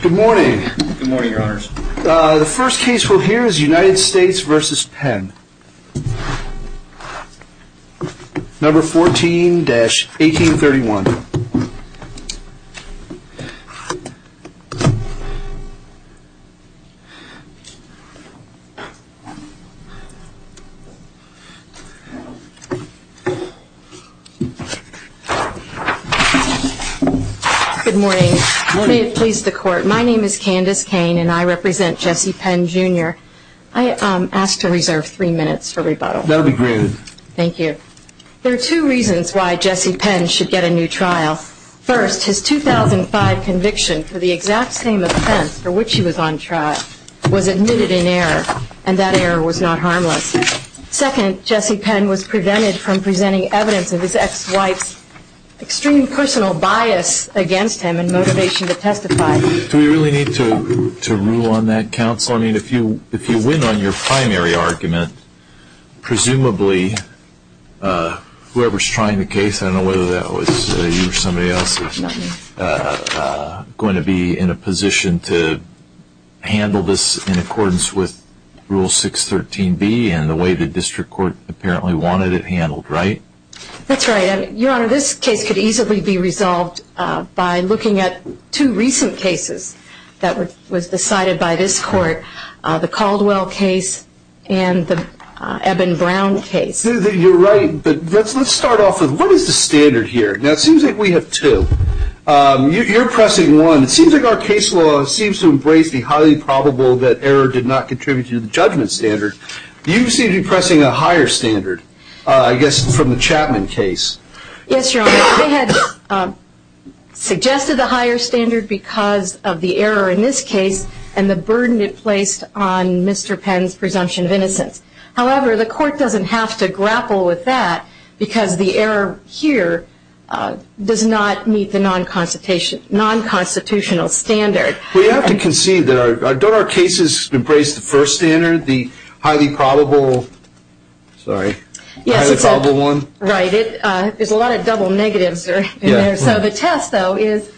Good morning. Good morning, your honors. The first case we'll hear is United States v. Penn. Number 14-1831. Good morning. May it please the court, my name is Candace Kane and I represent Jesse Penn Jr. I ask to reserve three minutes for rebuttal. That will be granted. Thank you. There are two reasons why Jesse Penn should get a new trial. First, his 2005 conviction for the exact same offense for which he was on trial was admitted in error, and that error was not harmless. Second, Jesse Penn was prevented from presenting evidence of his ex-wife's extreme personal bias against him and motivation to testify. Do we really need to rule on that, counsel? Counsel, if you win on your primary argument, presumably whoever is trying the case, I don't know whether that was you or somebody else, is going to be in a position to handle this in accordance with Rule 613B and the way the district court apparently wanted it handled, right? That's right. Your honor, this case could easily be resolved by looking at two recent cases that were decided by this court, the Caldwell case and the Eben Brown case. You're right, but let's start off with what is the standard here? Now it seems like we have two. You're pressing one. It seems like our case law seems to embrace the highly probable that error did not contribute to the judgment standard. You seem to be pressing a higher standard, I guess from the Chapman case. Yes, your honor. They had suggested the higher standard because of the error in this case and the burden it placed on Mr. Penn's presumption of innocence. However, the court doesn't have to grapple with that because the error here does not meet the non-constitutional standard. We have to concede that don't our cases embrace the first standard, the highly probable one? Right. There's a lot of double negatives in there. So the test, though, is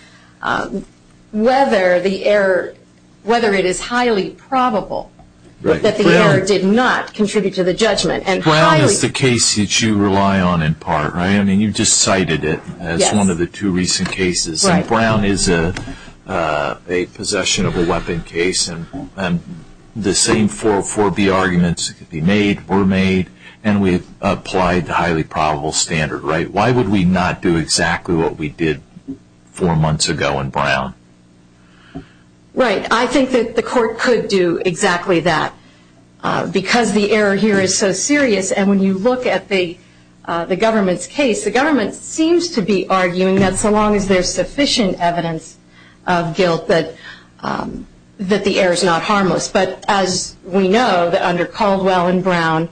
whether the error, whether it is highly probable that the error did not contribute to the judgment. Brown is the case that you rely on in part, right? I mean, you just cited it as one of the two recent cases. Brown is a possession of a weapon case and the same 404B arguments could be made, were made, and we've applied the highly probable standard, right? Why would we not do exactly what we did four months ago in Brown? Right. I think that the court could do exactly that because the error here is so serious and when you look at the government's case, the government seems to be arguing that so long as there's sufficient evidence of guilt that the error is not harmless. But as we know, under Caldwell and Brown,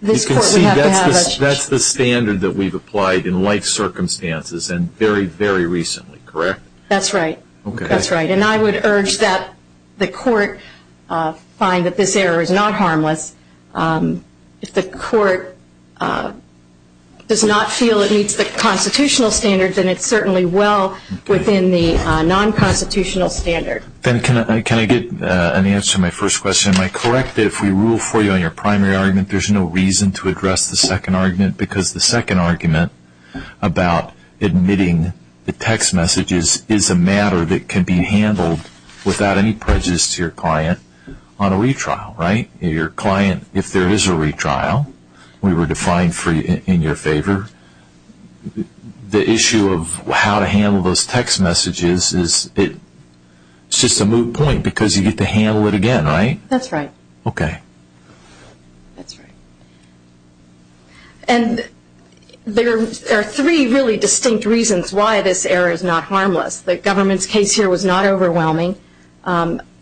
this court we have to have a You can see that's the standard that we've applied in life circumstances and very, very recently, correct? That's right. That's right. And I would urge that the court find that this error is not harmless. If the court does not feel it meets the constitutional standards, then it's certainly well within the non-constitutional standard. Ben, can I get an answer to my first question? Am I correct that if we rule for you on your primary argument, there's no reason to address the second argument because the second argument about admitting the text messages is a matter that can be handled without any prejudice to your client on a retrial, right? Your client, if there is a retrial, we were defined in your favor, the issue of how to handle those text messages is just a moot point because you get to handle it again, right? That's right. Okay. That's right. And there are three really distinct reasons why this error is not harmless. The government's case here was not overwhelming.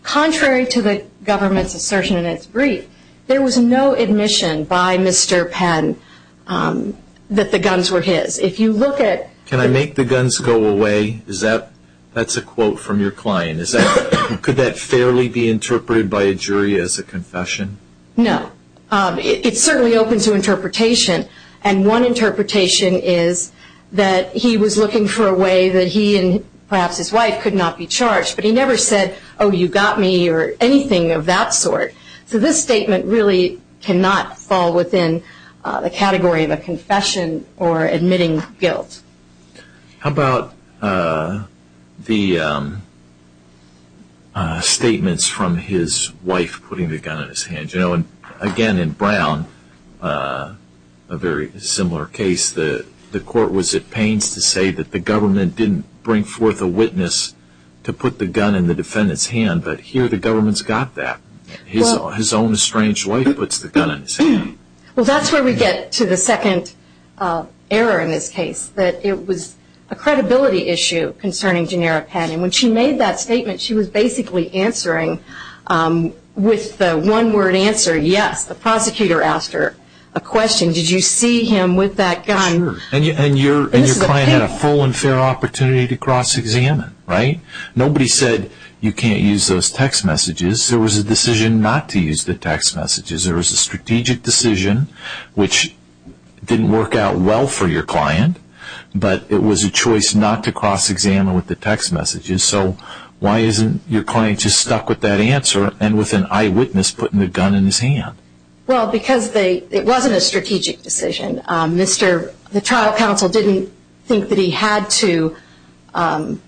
Contrary to the government's assertion in its brief, there was no admission by Mr. Penn that the guns were his. Can I make the guns go away? That's a quote from your client. Could that fairly be interpreted by a jury as a confession? No. It's certainly open to interpretation, and one interpretation is that he was looking for a way that he and perhaps his wife could not be charged, but he never said, oh, you got me or anything of that sort. So this statement really cannot fall within the category of a confession or admitting guilt. How about the statements from his wife putting the gun in his hand? You know, again, in Brown, a very similar case. The court was at pains to say that the government didn't bring forth a witness to put the gun in the defendant's hand, but here the government's got that. His own estranged wife puts the gun in his hand. Well, that's where we get to the second error in this case, that it was a credibility issue concerning Janera Penn. When she made that statement, she was basically answering with the one-word answer, yes. The prosecutor asked her a question. Did you see him with that gun? Sure. And your client had a full and fair opportunity to cross-examine, right? Nobody said you can't use those text messages. There was a decision not to use the text messages. There was a strategic decision, which didn't work out well for your client, but it was a choice not to cross-examine with the text messages. So why isn't your client just stuck with that answer and with an eyewitness putting the gun in his hand? Well, because it wasn't a strategic decision. The trial counsel didn't think that he had to present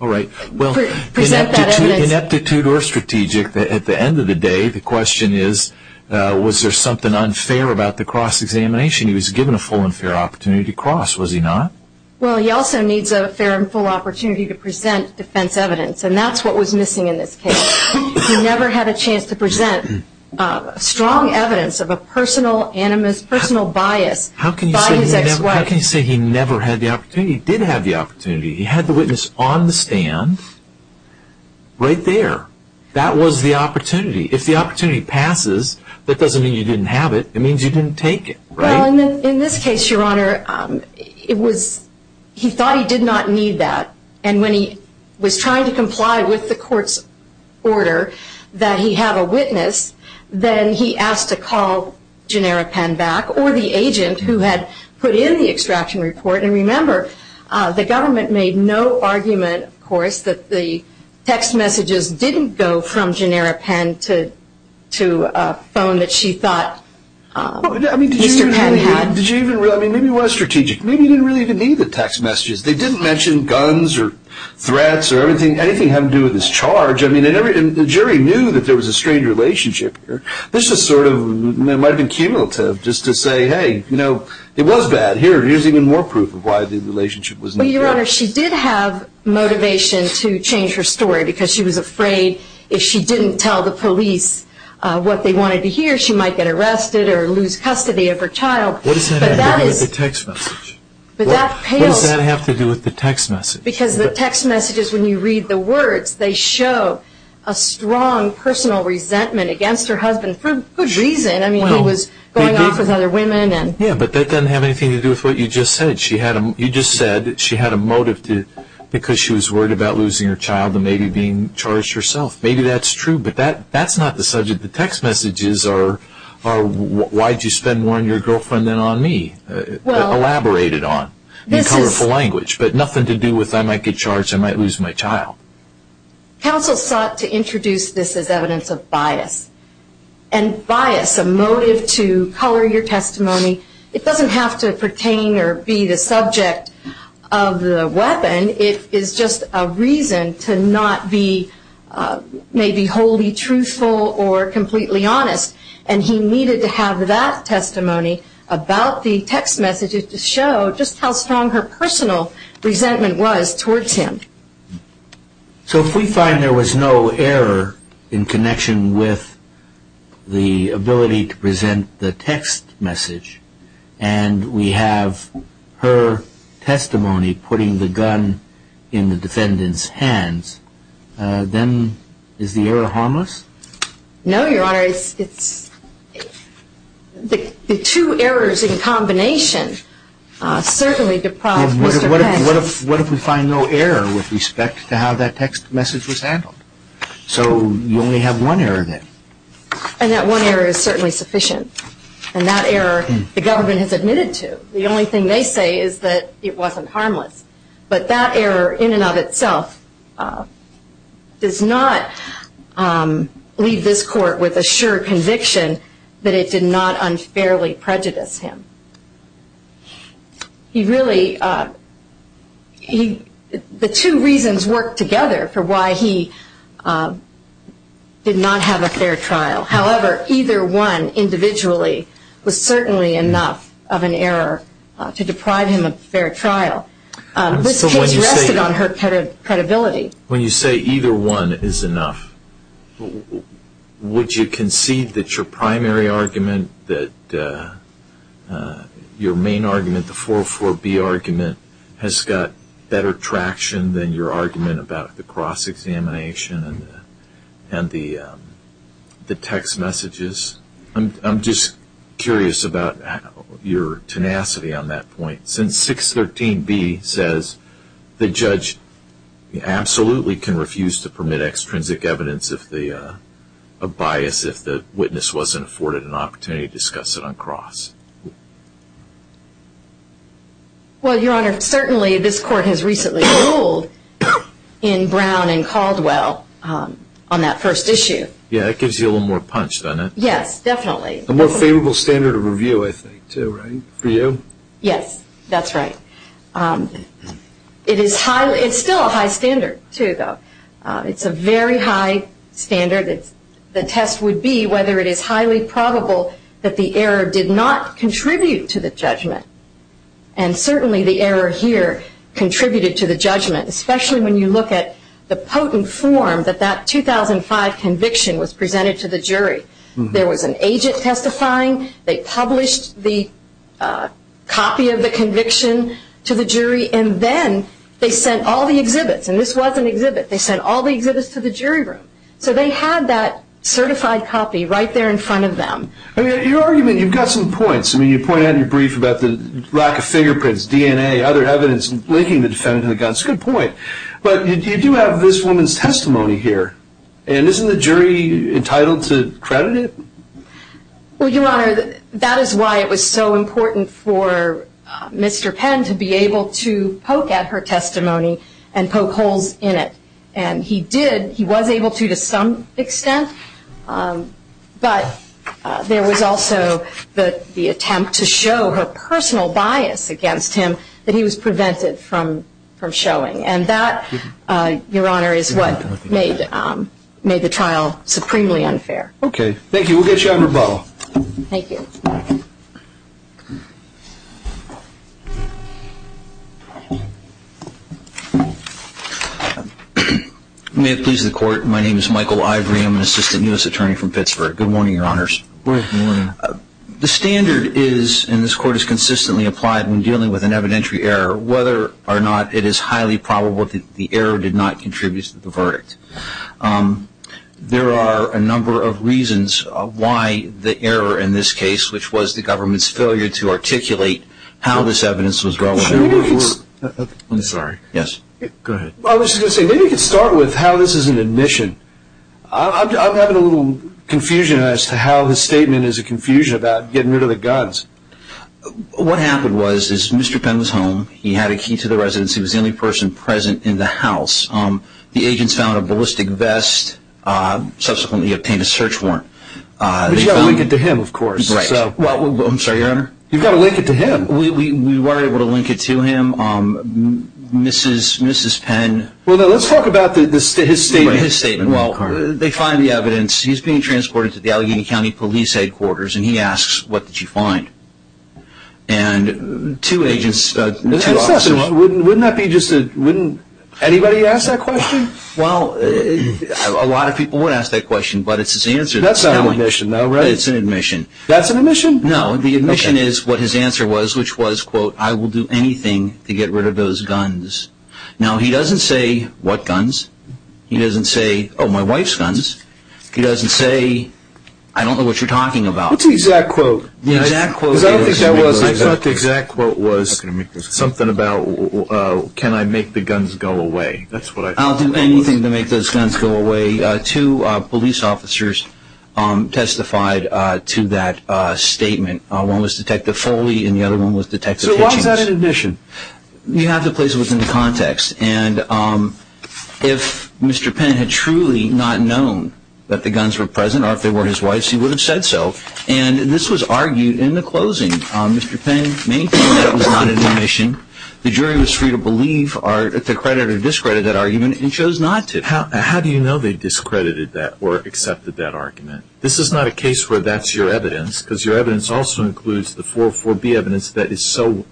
that evidence. Ineptitude or strategic, at the end of the day, the question is, was there something unfair about the cross-examination? He was given a full and fair opportunity to cross, was he not? Well, he also needs a fair and full opportunity to present defense evidence, and that's what was missing in this case. He never had a chance to present strong evidence of a personal animus, personal bias by his ex-wife. How can you say he never had the opportunity? He did have the opportunity. He had the witness on the stand right there. That was the opportunity. If the opportunity passes, that doesn't mean you didn't have it. It means you didn't take it, right? Well, in this case, Your Honor, he thought he did not need that, and when he was trying to comply with the court's order that he have a witness, then he asked to call Genera-Penn back or the agent who had put in the extraction report. And remember, the government made no argument, of course, that the text messages didn't go from Genera-Penn to a phone that she thought Mr. Penn had. I mean, maybe it was strategic. Maybe he didn't really even need the text messages. They didn't mention guns or threats or anything. Anything to do with his charge. I mean, the jury knew that there was a strained relationship here. This is sort of cumulative just to say, hey, you know, it was bad. Here's even more proof of why the relationship was not good. Well, Your Honor, she did have motivation to change her story because she was afraid if she didn't tell the police what they wanted to hear, she might get arrested or lose custody of her child. What does that have to do with the text messages? Because the text messages, when you read the words, they show a strong personal resentment against her husband for good reason. I mean, he was going off with other women. Yeah, but that doesn't have anything to do with what you just said. You just said she had a motive because she was worried about losing her child and maybe being charged herself. Maybe that's true, but that's not the subject. The text messages are, why did you spend more on your girlfriend than on me? Elaborate it on in colorful language. But nothing to do with I might get charged, I might lose my child. Counsel sought to introduce this as evidence of bias. And bias, a motive to color your testimony, it doesn't have to pertain or be the subject of the weapon. It is just a reason to not be maybe wholly truthful or completely honest. And he needed to have that testimony about the text messages to show just how strong her personal resentment was towards him. So if we find there was no error in connection with the ability to present the text message and we have her testimony putting the gun in the defendant's hands, then is the error harmless? No, Your Honor. The two errors in combination certainly deprive Mr. Pence. What if we find no error with respect to how that text message was handled? So you only have one error then. And that one error is certainly sufficient. And that error the government has admitted to. The only thing they say is that it wasn't harmless. But that error in and of itself does not leave this court with a sure conviction that it did not unfairly prejudice him. The two reasons work together for why he did not have a fair trial. However, either one individually was certainly enough of an error to deprive him of fair trial. This case rested on her credibility. When you say either one is enough, would you concede that your primary argument, that your main argument, the 404B argument, has got better traction than your argument about the cross-examination and the text messages? I'm just curious about your tenacity on that point. Since 613B says the judge absolutely can refuse to permit extrinsic evidence of bias if the witness wasn't afforded an opportunity to discuss it on cross. Well, Your Honor, certainly this court has recently ruled in Brown and Caldwell on that first issue. Yeah, it gives you a little more punch, doesn't it? Yes, definitely. A more favorable standard of review, I think, too, right, for you? Yes, that's right. It is still a high standard, too, though. It's a very high standard. The test would be whether it is highly probable that the error did not contribute to the judgment. And certainly the error here contributed to the judgment, especially when you look at the potent form that that 2005 conviction was presented to the jury. There was an agent testifying, they published the copy of the conviction to the jury, and then they sent all the exhibits, and this was an exhibit, they sent all the exhibits to the jury room. So they had that certified copy right there in front of them. Your argument, you've got some points. I mean, you point out in your brief about the lack of fingerprints, DNA, other evidence linking the defendant to the gun. It's a good point. But you do have this woman's testimony here, and isn't the jury entitled to credit it? Well, Your Honor, that is why it was so important for Mr. Penn to be able to poke at her testimony and poke holes in it. And he did, he was able to to some extent, but there was also the attempt to show her personal bias against him that he was prevented from showing. And that, Your Honor, is what made the trial supremely unfair. Okay, thank you. We'll get you on rebuttal. Thank you. May it please the Court, my name is Michael Ivory. I'm an Assistant U.S. Attorney from Pittsburgh. Good morning, Your Honors. Good morning. The standard is, and this Court has consistently applied when dealing with an evidentiary error, whether or not it is highly probable that the error did not contribute to the verdict. There are a number of reasons why the error in this case, which was the government's failure to articulate how this evidence was relevant. I'm sorry. Yes. Go ahead. I was just going to say, maybe you could start with how this is an admission. I'm having a little confusion as to how his statement is a confusion about getting rid of the guns. What happened was, is Mr. Penn was home. He had a key to the residence. He was the only person present in the house. The agents found a ballistic vest. Subsequently, he obtained a search warrant. But you've got to link it to him, of course. Right. I'm sorry, Your Honor? You've got to link it to him. We were able to link it to him. Mrs. Penn. Well, let's talk about his statement. His statement. Well, they find the evidence. He's being transported to the Allegheny County Police Headquarters, and he asks, What did you find? And two agents, two officers. Wouldn't that be just a, wouldn't anybody ask that question? Well, a lot of people would ask that question, but it's his answer. That's not an admission, though, right? It's an admission. That's an admission? No. The admission is what his answer was, which was, quote, I will do anything to get rid of those guns. Now, he doesn't say what guns. He doesn't say, Oh, my wife's guns. He doesn't say, I don't know what you're talking about. What's the exact quote? The exact quote is. Because I don't think that was. I thought the exact quote was something about can I make the guns go away. That's what I thought. I'll do anything to make those guns go away. Two police officers testified to that statement. One was Detective Foley, and the other one was Detective Hitchens. So why was that an admission? You have to place it within the context. And if Mr. Penn had truly not known that the guns were present, or if they were his wife's, he would have said so. And this was argued in the closing. Mr. Penn maintained that was not an admission. The jury was free to believe, to credit or discredit that argument, and chose not to. How do you know they discredited that or accepted that argument? This is not a case where that's your evidence, because your evidence also includes the 404B evidence that is so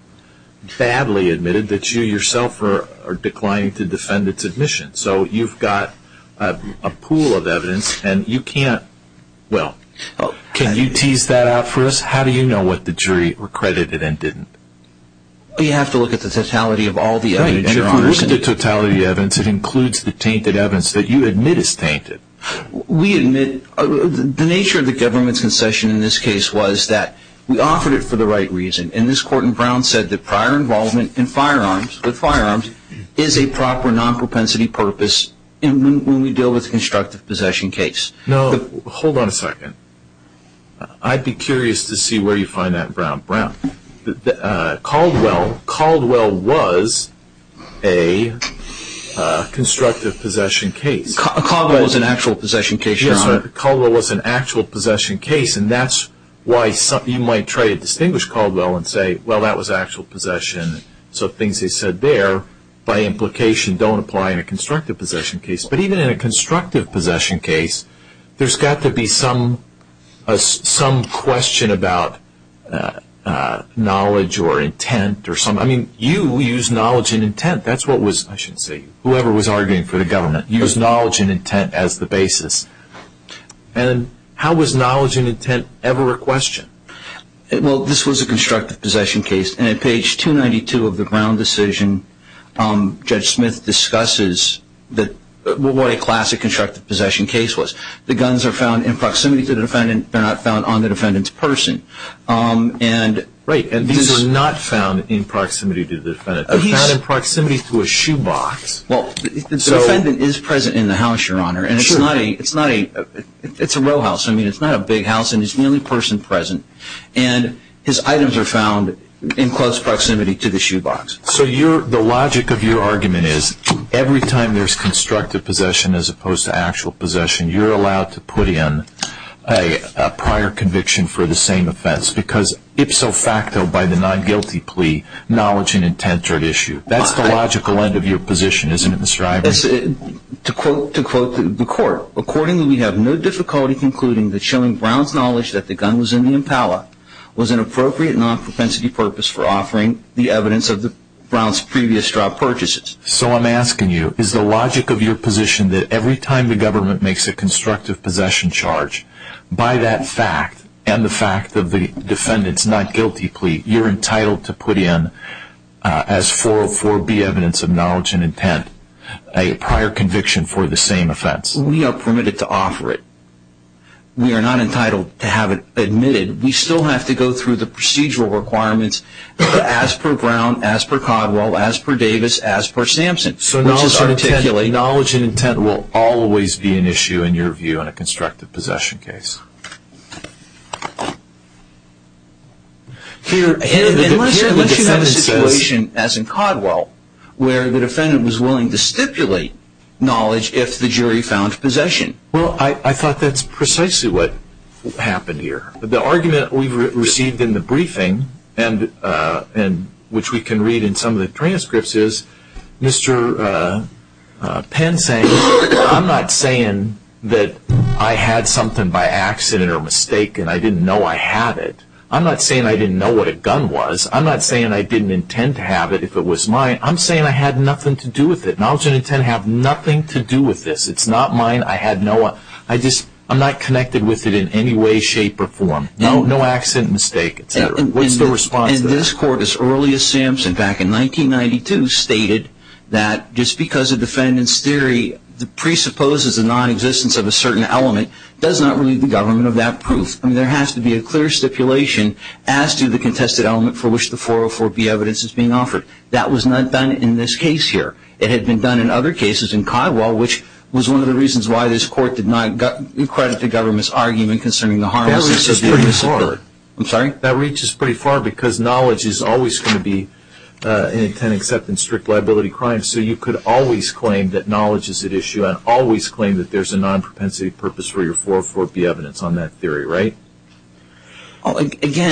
badly admitted that you yourself are declining to defend its admission. So you've got a pool of evidence, and you can't – well, can you tease that out for us? How do you know what the jury recredited and didn't? You have to look at the totality of all the evidence, Your Honor. And if you look at the totality of the evidence, it includes the tainted evidence that you admit is tainted. We admit – the nature of the government's concession in this case was that we offered it for the right reason. And this court in Brown said that prior involvement in firearms, with firearms, is a proper non-propensity purpose when we deal with a constructive possession case. Now, hold on a second. I'd be curious to see where you find that in Brown. Caldwell was a constructive possession case. Caldwell was an actual possession case, Your Honor. Yes, Caldwell was an actual possession case, and that's why you might try to distinguish Caldwell and say, well, that was actual possession. So things he said there, by implication, don't apply in a constructive possession case. But even in a constructive possession case, there's got to be some question about knowledge or intent. I mean, you used knowledge and intent. That's what was – I shouldn't say – whoever was arguing for the government used knowledge and intent as the basis. And how was knowledge and intent ever a question? Well, this was a constructive possession case, and at page 292 of the Brown decision, Judge Smith discusses what a classic constructive possession case was. The guns are found in proximity to the defendant. They're not found on the defendant's person. Right, and these are not found in proximity to the defendant. They're found in proximity to a shoebox. Well, the defendant is present in the house, Your Honor, and it's not a – it's a row house. I mean, it's not a big house, and he's the only person present. And his items are found in close proximity to the shoebox. So you're – the logic of your argument is every time there's constructive possession as opposed to actual possession, you're allowed to put in a prior conviction for the same offense, because ipso facto by the non-guilty plea, knowledge and intent are at issue. That's the logical end of your position, isn't it, Mr. Iverson? To quote the court, Accordingly, we have no difficulty concluding that showing Brown's knowledge that the gun was in the impala was an appropriate non-propensity purpose for offering the evidence of Brown's previous drug purchases. So I'm asking you, is the logic of your position that every time the government makes a constructive possession charge, by that fact and the fact of the defendant's not-guilty plea, you're entitled to put in as 404B evidence of knowledge and intent a prior conviction for the same offense? We are permitted to offer it. We are not entitled to have it admitted. We still have to go through the procedural requirements as per Brown, as per Codwell, as per Davis, as per Sampson. So knowledge and intent will always be an issue, in your view, in a constructive possession case. Unless you have a situation, as in Codwell, where the defendant was willing to stipulate knowledge if the jury found possession. Well, I thought that's precisely what happened here. The argument we've received in the briefing, which we can read in some of the transcripts, was Mr. Penn saying, I'm not saying that I had something by accident or mistake and I didn't know I had it. I'm not saying I didn't know what a gun was. I'm not saying I didn't intend to have it if it was mine. I'm saying I had nothing to do with it. Knowledge and intent have nothing to do with this. It's not mine. I'm not connected with it in any way, shape, or form. No accident, mistake, etc. What's the response to that? And this Court, as early as Sampson, back in 1992, stated that just because a defendant's theory presupposes a nonexistence of a certain element, does not relieve the government of that proof. I mean, there has to be a clear stipulation as to the contested element for which the 404B evidence is being offered. That was not done in this case here. It had been done in other cases in Codwell, which was one of the reasons why this Court did not credit the government's argument concerning the harm. That reaches pretty far. I'm sorry? That reaches pretty far because knowledge is always going to be an intent except in strict liability crimes, so you could always claim that knowledge is at issue and always claim that there's a non-propensity purpose for your 404B evidence on that theory, right? Again,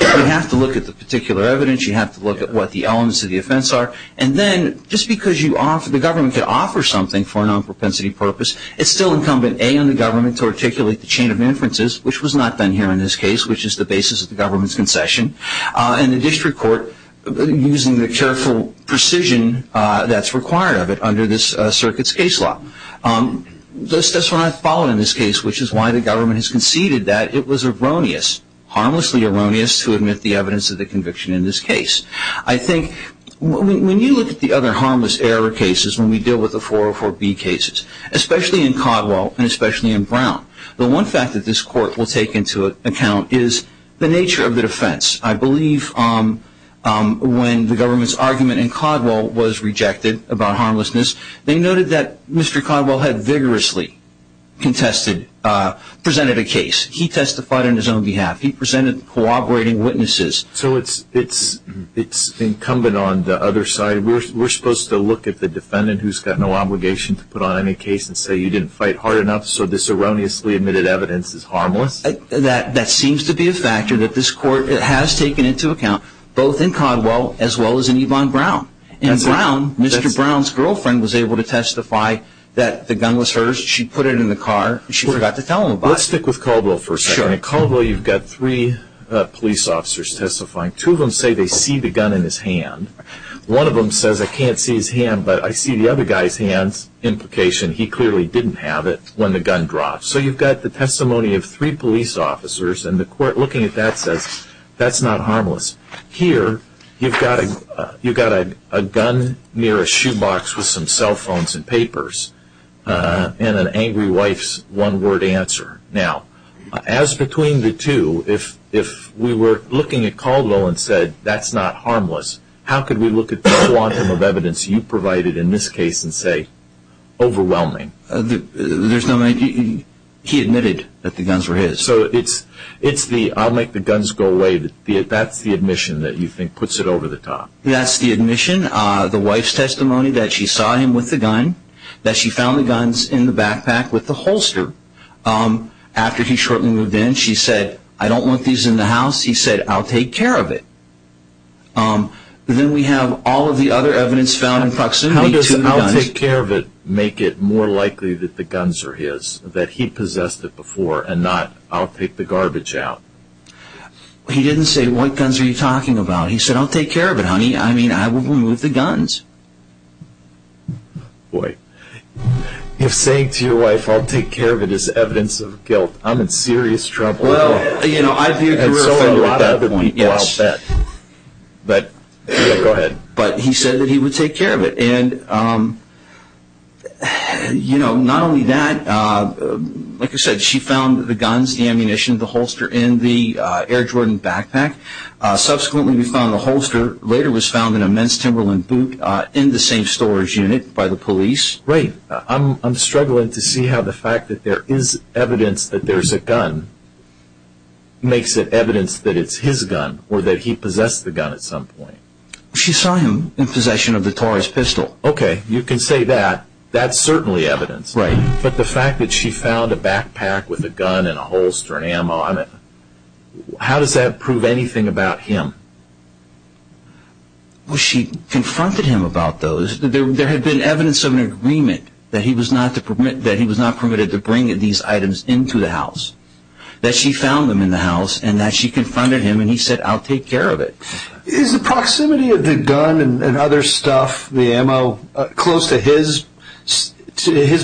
you have to look at the particular evidence. You have to look at what the elements of the offense are. And then, just because the government could offer something for a non-propensity purpose, it's still incumbent, A, on the government to articulate the chain of inferences, which was not done here in this case, which is the basis of the government's concession, and the district court using the careful precision that's required of it under this circuit's case law. That's what I followed in this case, which is why the government has conceded that it was erroneous, harmlessly erroneous, to admit the evidence of the conviction in this case. I think when you look at the other harmless error cases when we deal with the 404B cases, especially in Codwell and especially in Brown, the one fact that this court will take into account is the nature of the defense. I believe when the government's argument in Codwell was rejected about harmlessness, they noted that Mr. Codwell had vigorously contested, presented a case. He testified on his own behalf. He presented cooperating witnesses. So it's incumbent on the other side. We're supposed to look at the defendant who's got no obligation to put on any case and say, you didn't fight hard enough, so this erroneously admitted evidence is harmless? That seems to be a factor that this court has taken into account, both in Codwell as well as in Yvonne Brown. In Brown, Mr. Brown's girlfriend was able to testify that the gun was hers. She put it in the car. She forgot to tell him about it. Let's stick with Codwell for a second. In Codwell, you've got three police officers testifying. Two of them say they see the gun in his hand. One of them says, I can't see his hand, but I see the other guy's hand's implication. He clearly didn't have it when the gun dropped. So you've got the testimony of three police officers, and the court looking at that says, that's not harmless. Here, you've got a gun near a shoebox with some cell phones and papers and an angry wife's one-word answer. Now, as between the two, if we were looking at Codwell and said, that's not harmless, how could we look at the quantum of evidence you provided in this case and say, overwhelming? He admitted that the guns were his. So it's the, I'll make the guns go away, that's the admission that you think puts it over the top. That's the admission. The wife's testimony that she saw him with the gun, that she found the guns in the backpack with the holster. After he shortly moved in, she said, I don't want these in the house. He said, I'll take care of it. Then we have all of the other evidence found in proximity to the guns. How does I'll take care of it make it more likely that the guns are his? That he possessed it before and not, I'll take the garbage out? He didn't say, what guns are you talking about? He said, I'll take care of it, honey. I mean, I will remove the guns. Boy. If saying to your wife, I'll take care of it, is evidence of guilt, I'm in serious trouble. Well, you know, I'd be a career offender at that point. And so are a lot of other people, I'll bet. But he said that he would take care of it. And, you know, not only that, like I said, she found the guns, the ammunition, the holster in the Air Jordan backpack. Subsequently, we found the holster, later was found in a men's Timberland boot, in the same storage unit by the police. Right. I'm struggling to see how the fact that there is evidence that there's a gun makes it evidence that it's his gun or that he possessed the gun at some point. She saw him in possession of the Taurus pistol. Okay. You can say that. That's certainly evidence. Right. But the fact that she found a backpack with a gun and a holster and ammo on it, how does that prove anything about him? Well, she confronted him about those. There had been evidence of an agreement that he was not permitted to bring these items into the house. That she found them in the house and that she confronted him and he said, I'll take care of it. Is the proximity of the gun and other stuff, the ammo, close to his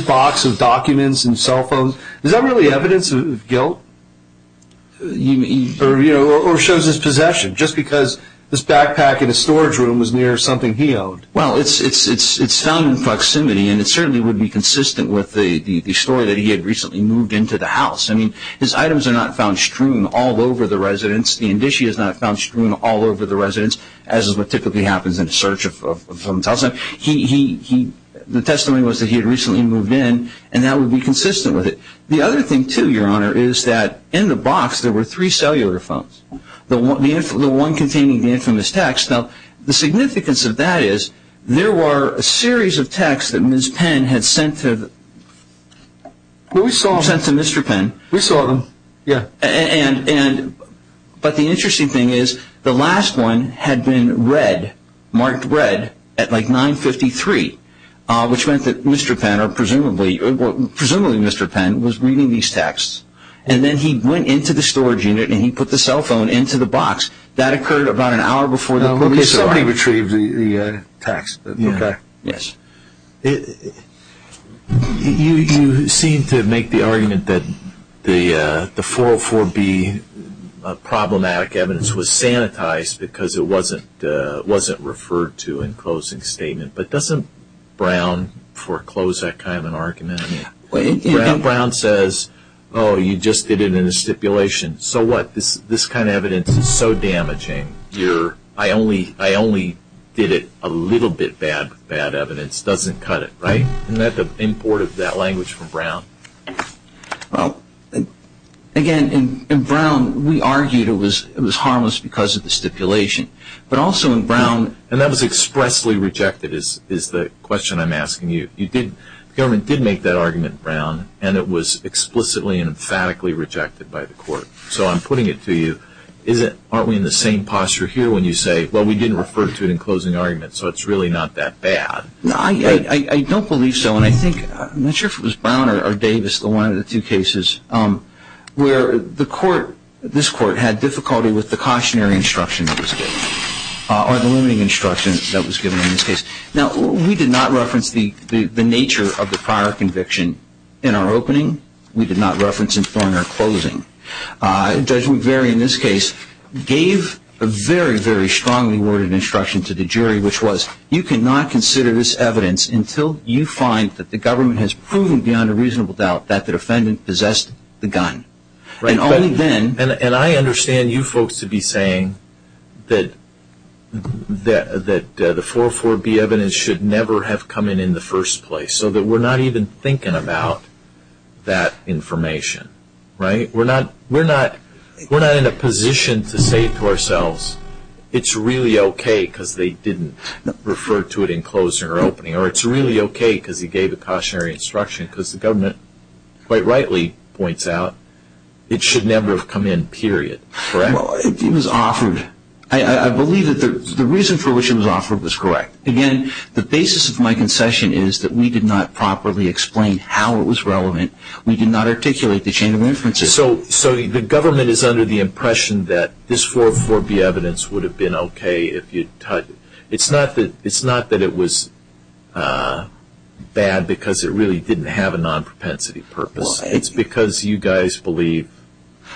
box of documents and cell phones? Is that really evidence of guilt? Or shows his possession just because this backpack in his storage room was near something he owned? Well, it's found in proximity and it certainly would be consistent with the story that he had recently moved into the house. I mean, his items are not found strewn all over the residence. The indicia is not found strewn all over the residence, as is what typically happens in a search of someone's house. The testimony was that he had recently moved in and that would be consistent with it. The other thing, too, Your Honor, is that in the box there were three cellular phones. The one containing the infamous text. Now, the significance of that is there were a series of texts that Ms. Penn had sent to Mr. Penn. We saw them, yeah. But the interesting thing is the last one had been marked red at like 9.53, which meant that Mr. Penn, or presumably Mr. Penn, was reading these texts. And then he went into the storage unit and he put the cell phone into the box. That occurred about an hour before the police arrived. Somebody retrieved the text. Yes. You seem to make the argument that the 404B problematic evidence was sanitized because it wasn't referred to in closing statement. But doesn't Brown foreclose that kind of an argument? Brown says, oh, you just did it in a stipulation. So what? This kind of evidence is so damaging. I only did it a little bit bad with bad evidence. It doesn't cut it, right? Isn't that the import of that language from Brown? Well, again, in Brown we argued it was harmless because of the stipulation. But also in Brown – And that was expressly rejected is the question I'm asking you. The government did make that argument in Brown, and it was explicitly and emphatically rejected by the court. So I'm putting it to you. Aren't we in the same posture here when you say, well, we didn't refer to it in closing argument, so it's really not that bad? I don't believe so. And I think – I'm not sure if it was Brown or Davis, the one of the two cases – where the court, this court, had difficulty with the cautionary instruction that was given, or the limiting instruction that was given in this case. Now, we did not reference the nature of the prior conviction in our opening. We did not reference it during our closing. Judge McVeary in this case gave a very, very strongly worded instruction to the jury, which was, you cannot consider this evidence until you find that the government has proven beyond a reasonable doubt that the defendant possessed the gun. And only then – the evidence should never have come in in the first place, so that we're not even thinking about that information. Right? We're not in a position to say to ourselves, it's really okay because they didn't refer to it in closing or opening, or it's really okay because he gave a cautionary instruction, because the government quite rightly points out it should never have come in, period. Correct? It was offered. I believe that the reason for which it was offered was correct. Again, the basis of my concession is that we did not properly explain how it was relevant. We did not articulate the chain of inferences. So the government is under the impression that this 440 evidence would have been okay if you'd – it's not that it was bad because it really didn't have a non-propensity purpose. It's because you guys believe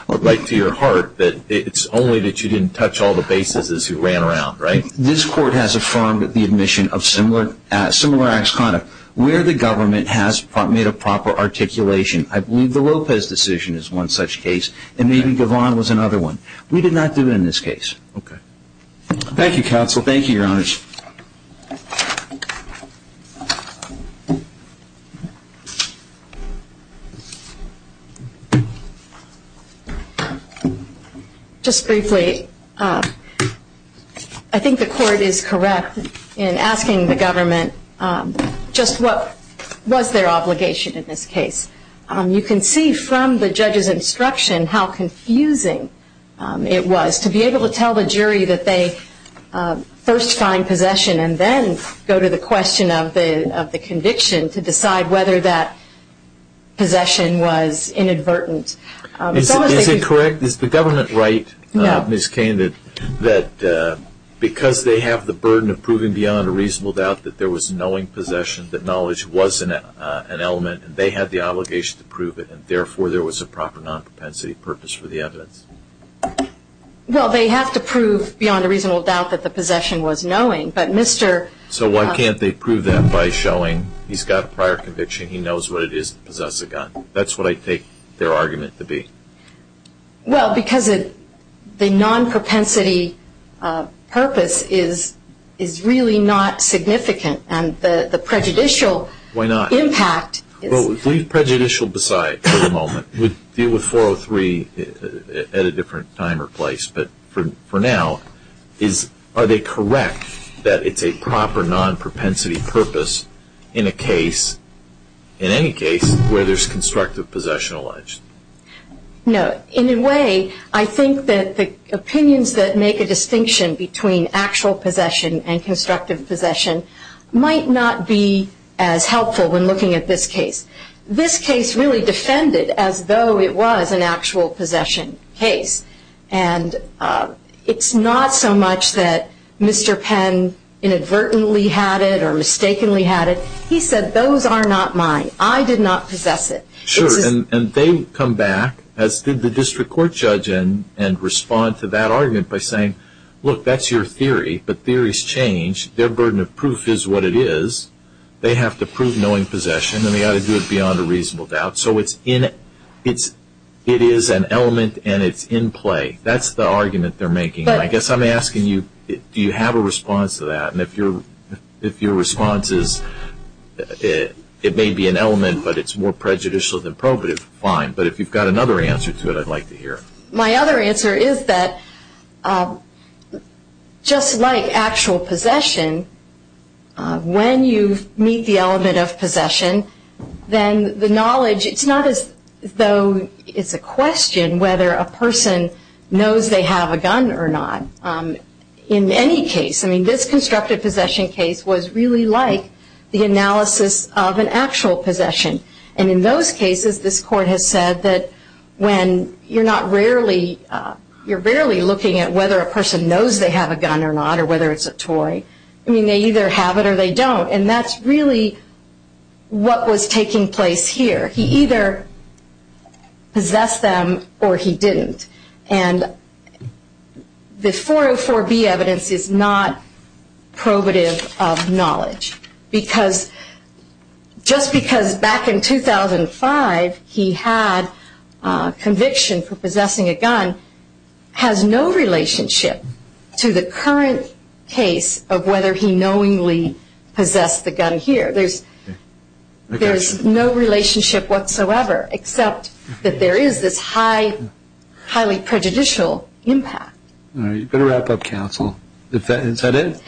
right to your heart that it's only that you didn't touch all the bases as you ran around. Right? This court has affirmed the admission of similar acts of conduct where the government has made a proper articulation. I believe the Lopez decision is one such case, and maybe Gavon was another one. We did not do it in this case. Okay. Thank you, counsel. Thank you, your honors. Just briefly, I think the court is correct in asking the government just what was their obligation in this case. You can see from the judge's instruction how confusing it was to be able to tell the jury that they first find possession and then go to the question of the conviction to decide whether that possession was inadvertent. Is it correct? Is the government right, Ms. Cain, that because they have the burden of proving beyond a reasonable doubt that there was knowing possession, that knowledge was an element and they had the obligation to prove it and therefore there was a proper non-propensity purpose for the evidence? Well, they have to prove beyond a reasonable doubt that the possession was knowing, but Mr. So why can't they prove that by showing he's got a prior conviction, he knows what it is to possess a gun? That's what I take their argument to be. Well, because the non-propensity purpose is really not significant, and the prejudicial impact. Why not? Well, we'll leave prejudicial aside for the moment. We'll deal with 403 at a different time or place. But for now, are they correct that it's a proper non-propensity purpose in a case, in any case, where there's constructive possession alleged? No. In a way, I think that the opinions that make a distinction between actual possession and constructive possession might not be as helpful when looking at this case. This case really defended as though it was an actual possession case, and it's not so much that Mr. Penn inadvertently had it or mistakenly had it. He said, those are not mine. I did not possess it. Sure, and they come back, as did the district court judge, and respond to that argument by saying, look, that's your theory, but theories change. Their burden of proof is what it is. They have to prove knowing possession, and they ought to do it beyond a reasonable doubt. So it is an element, and it's in play. That's the argument they're making. I guess I'm asking you, do you have a response to that? And if your response is it may be an element, but it's more prejudicial than probative, fine. But if you've got another answer to it, I'd like to hear it. My other answer is that just like actual possession, when you meet the element of possession, then the knowledge, it's not as though it's a question whether a person knows they have a gun or not. In any case, I mean, this constructive possession case was really like the analysis of an actual possession. And in those cases, this court has said that when you're not rarely, you're rarely looking at whether a person knows they have a gun or not, or whether it's a toy. I mean, they either have it or they don't, and that's really what was taking place here. He either possessed them or he didn't. And the 404B evidence is not probative of knowledge, because just because back in 2005 he had conviction for possessing a gun, has no relationship to the current case of whether he knowingly possessed the gun here. There's no relationship whatsoever, except that there is this highly prejudicial impact. All right, you better wrap up, counsel. Is that it?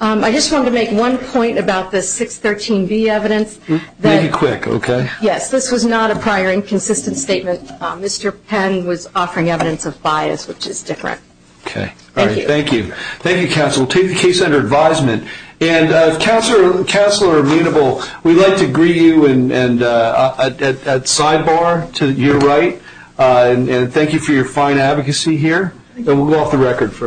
I just wanted to make one point about the 613B evidence. Make it quick, okay? Yes, this was not a prior and consistent statement. Mr. Penn was offering evidence of bias, which is different. Okay, all right, thank you. Thank you, counsel. Take the case under advisement. Counselor Munible, we'd like to greet you at sidebar to your right, and thank you for your fine advocacy here. We'll go off the record for a minute.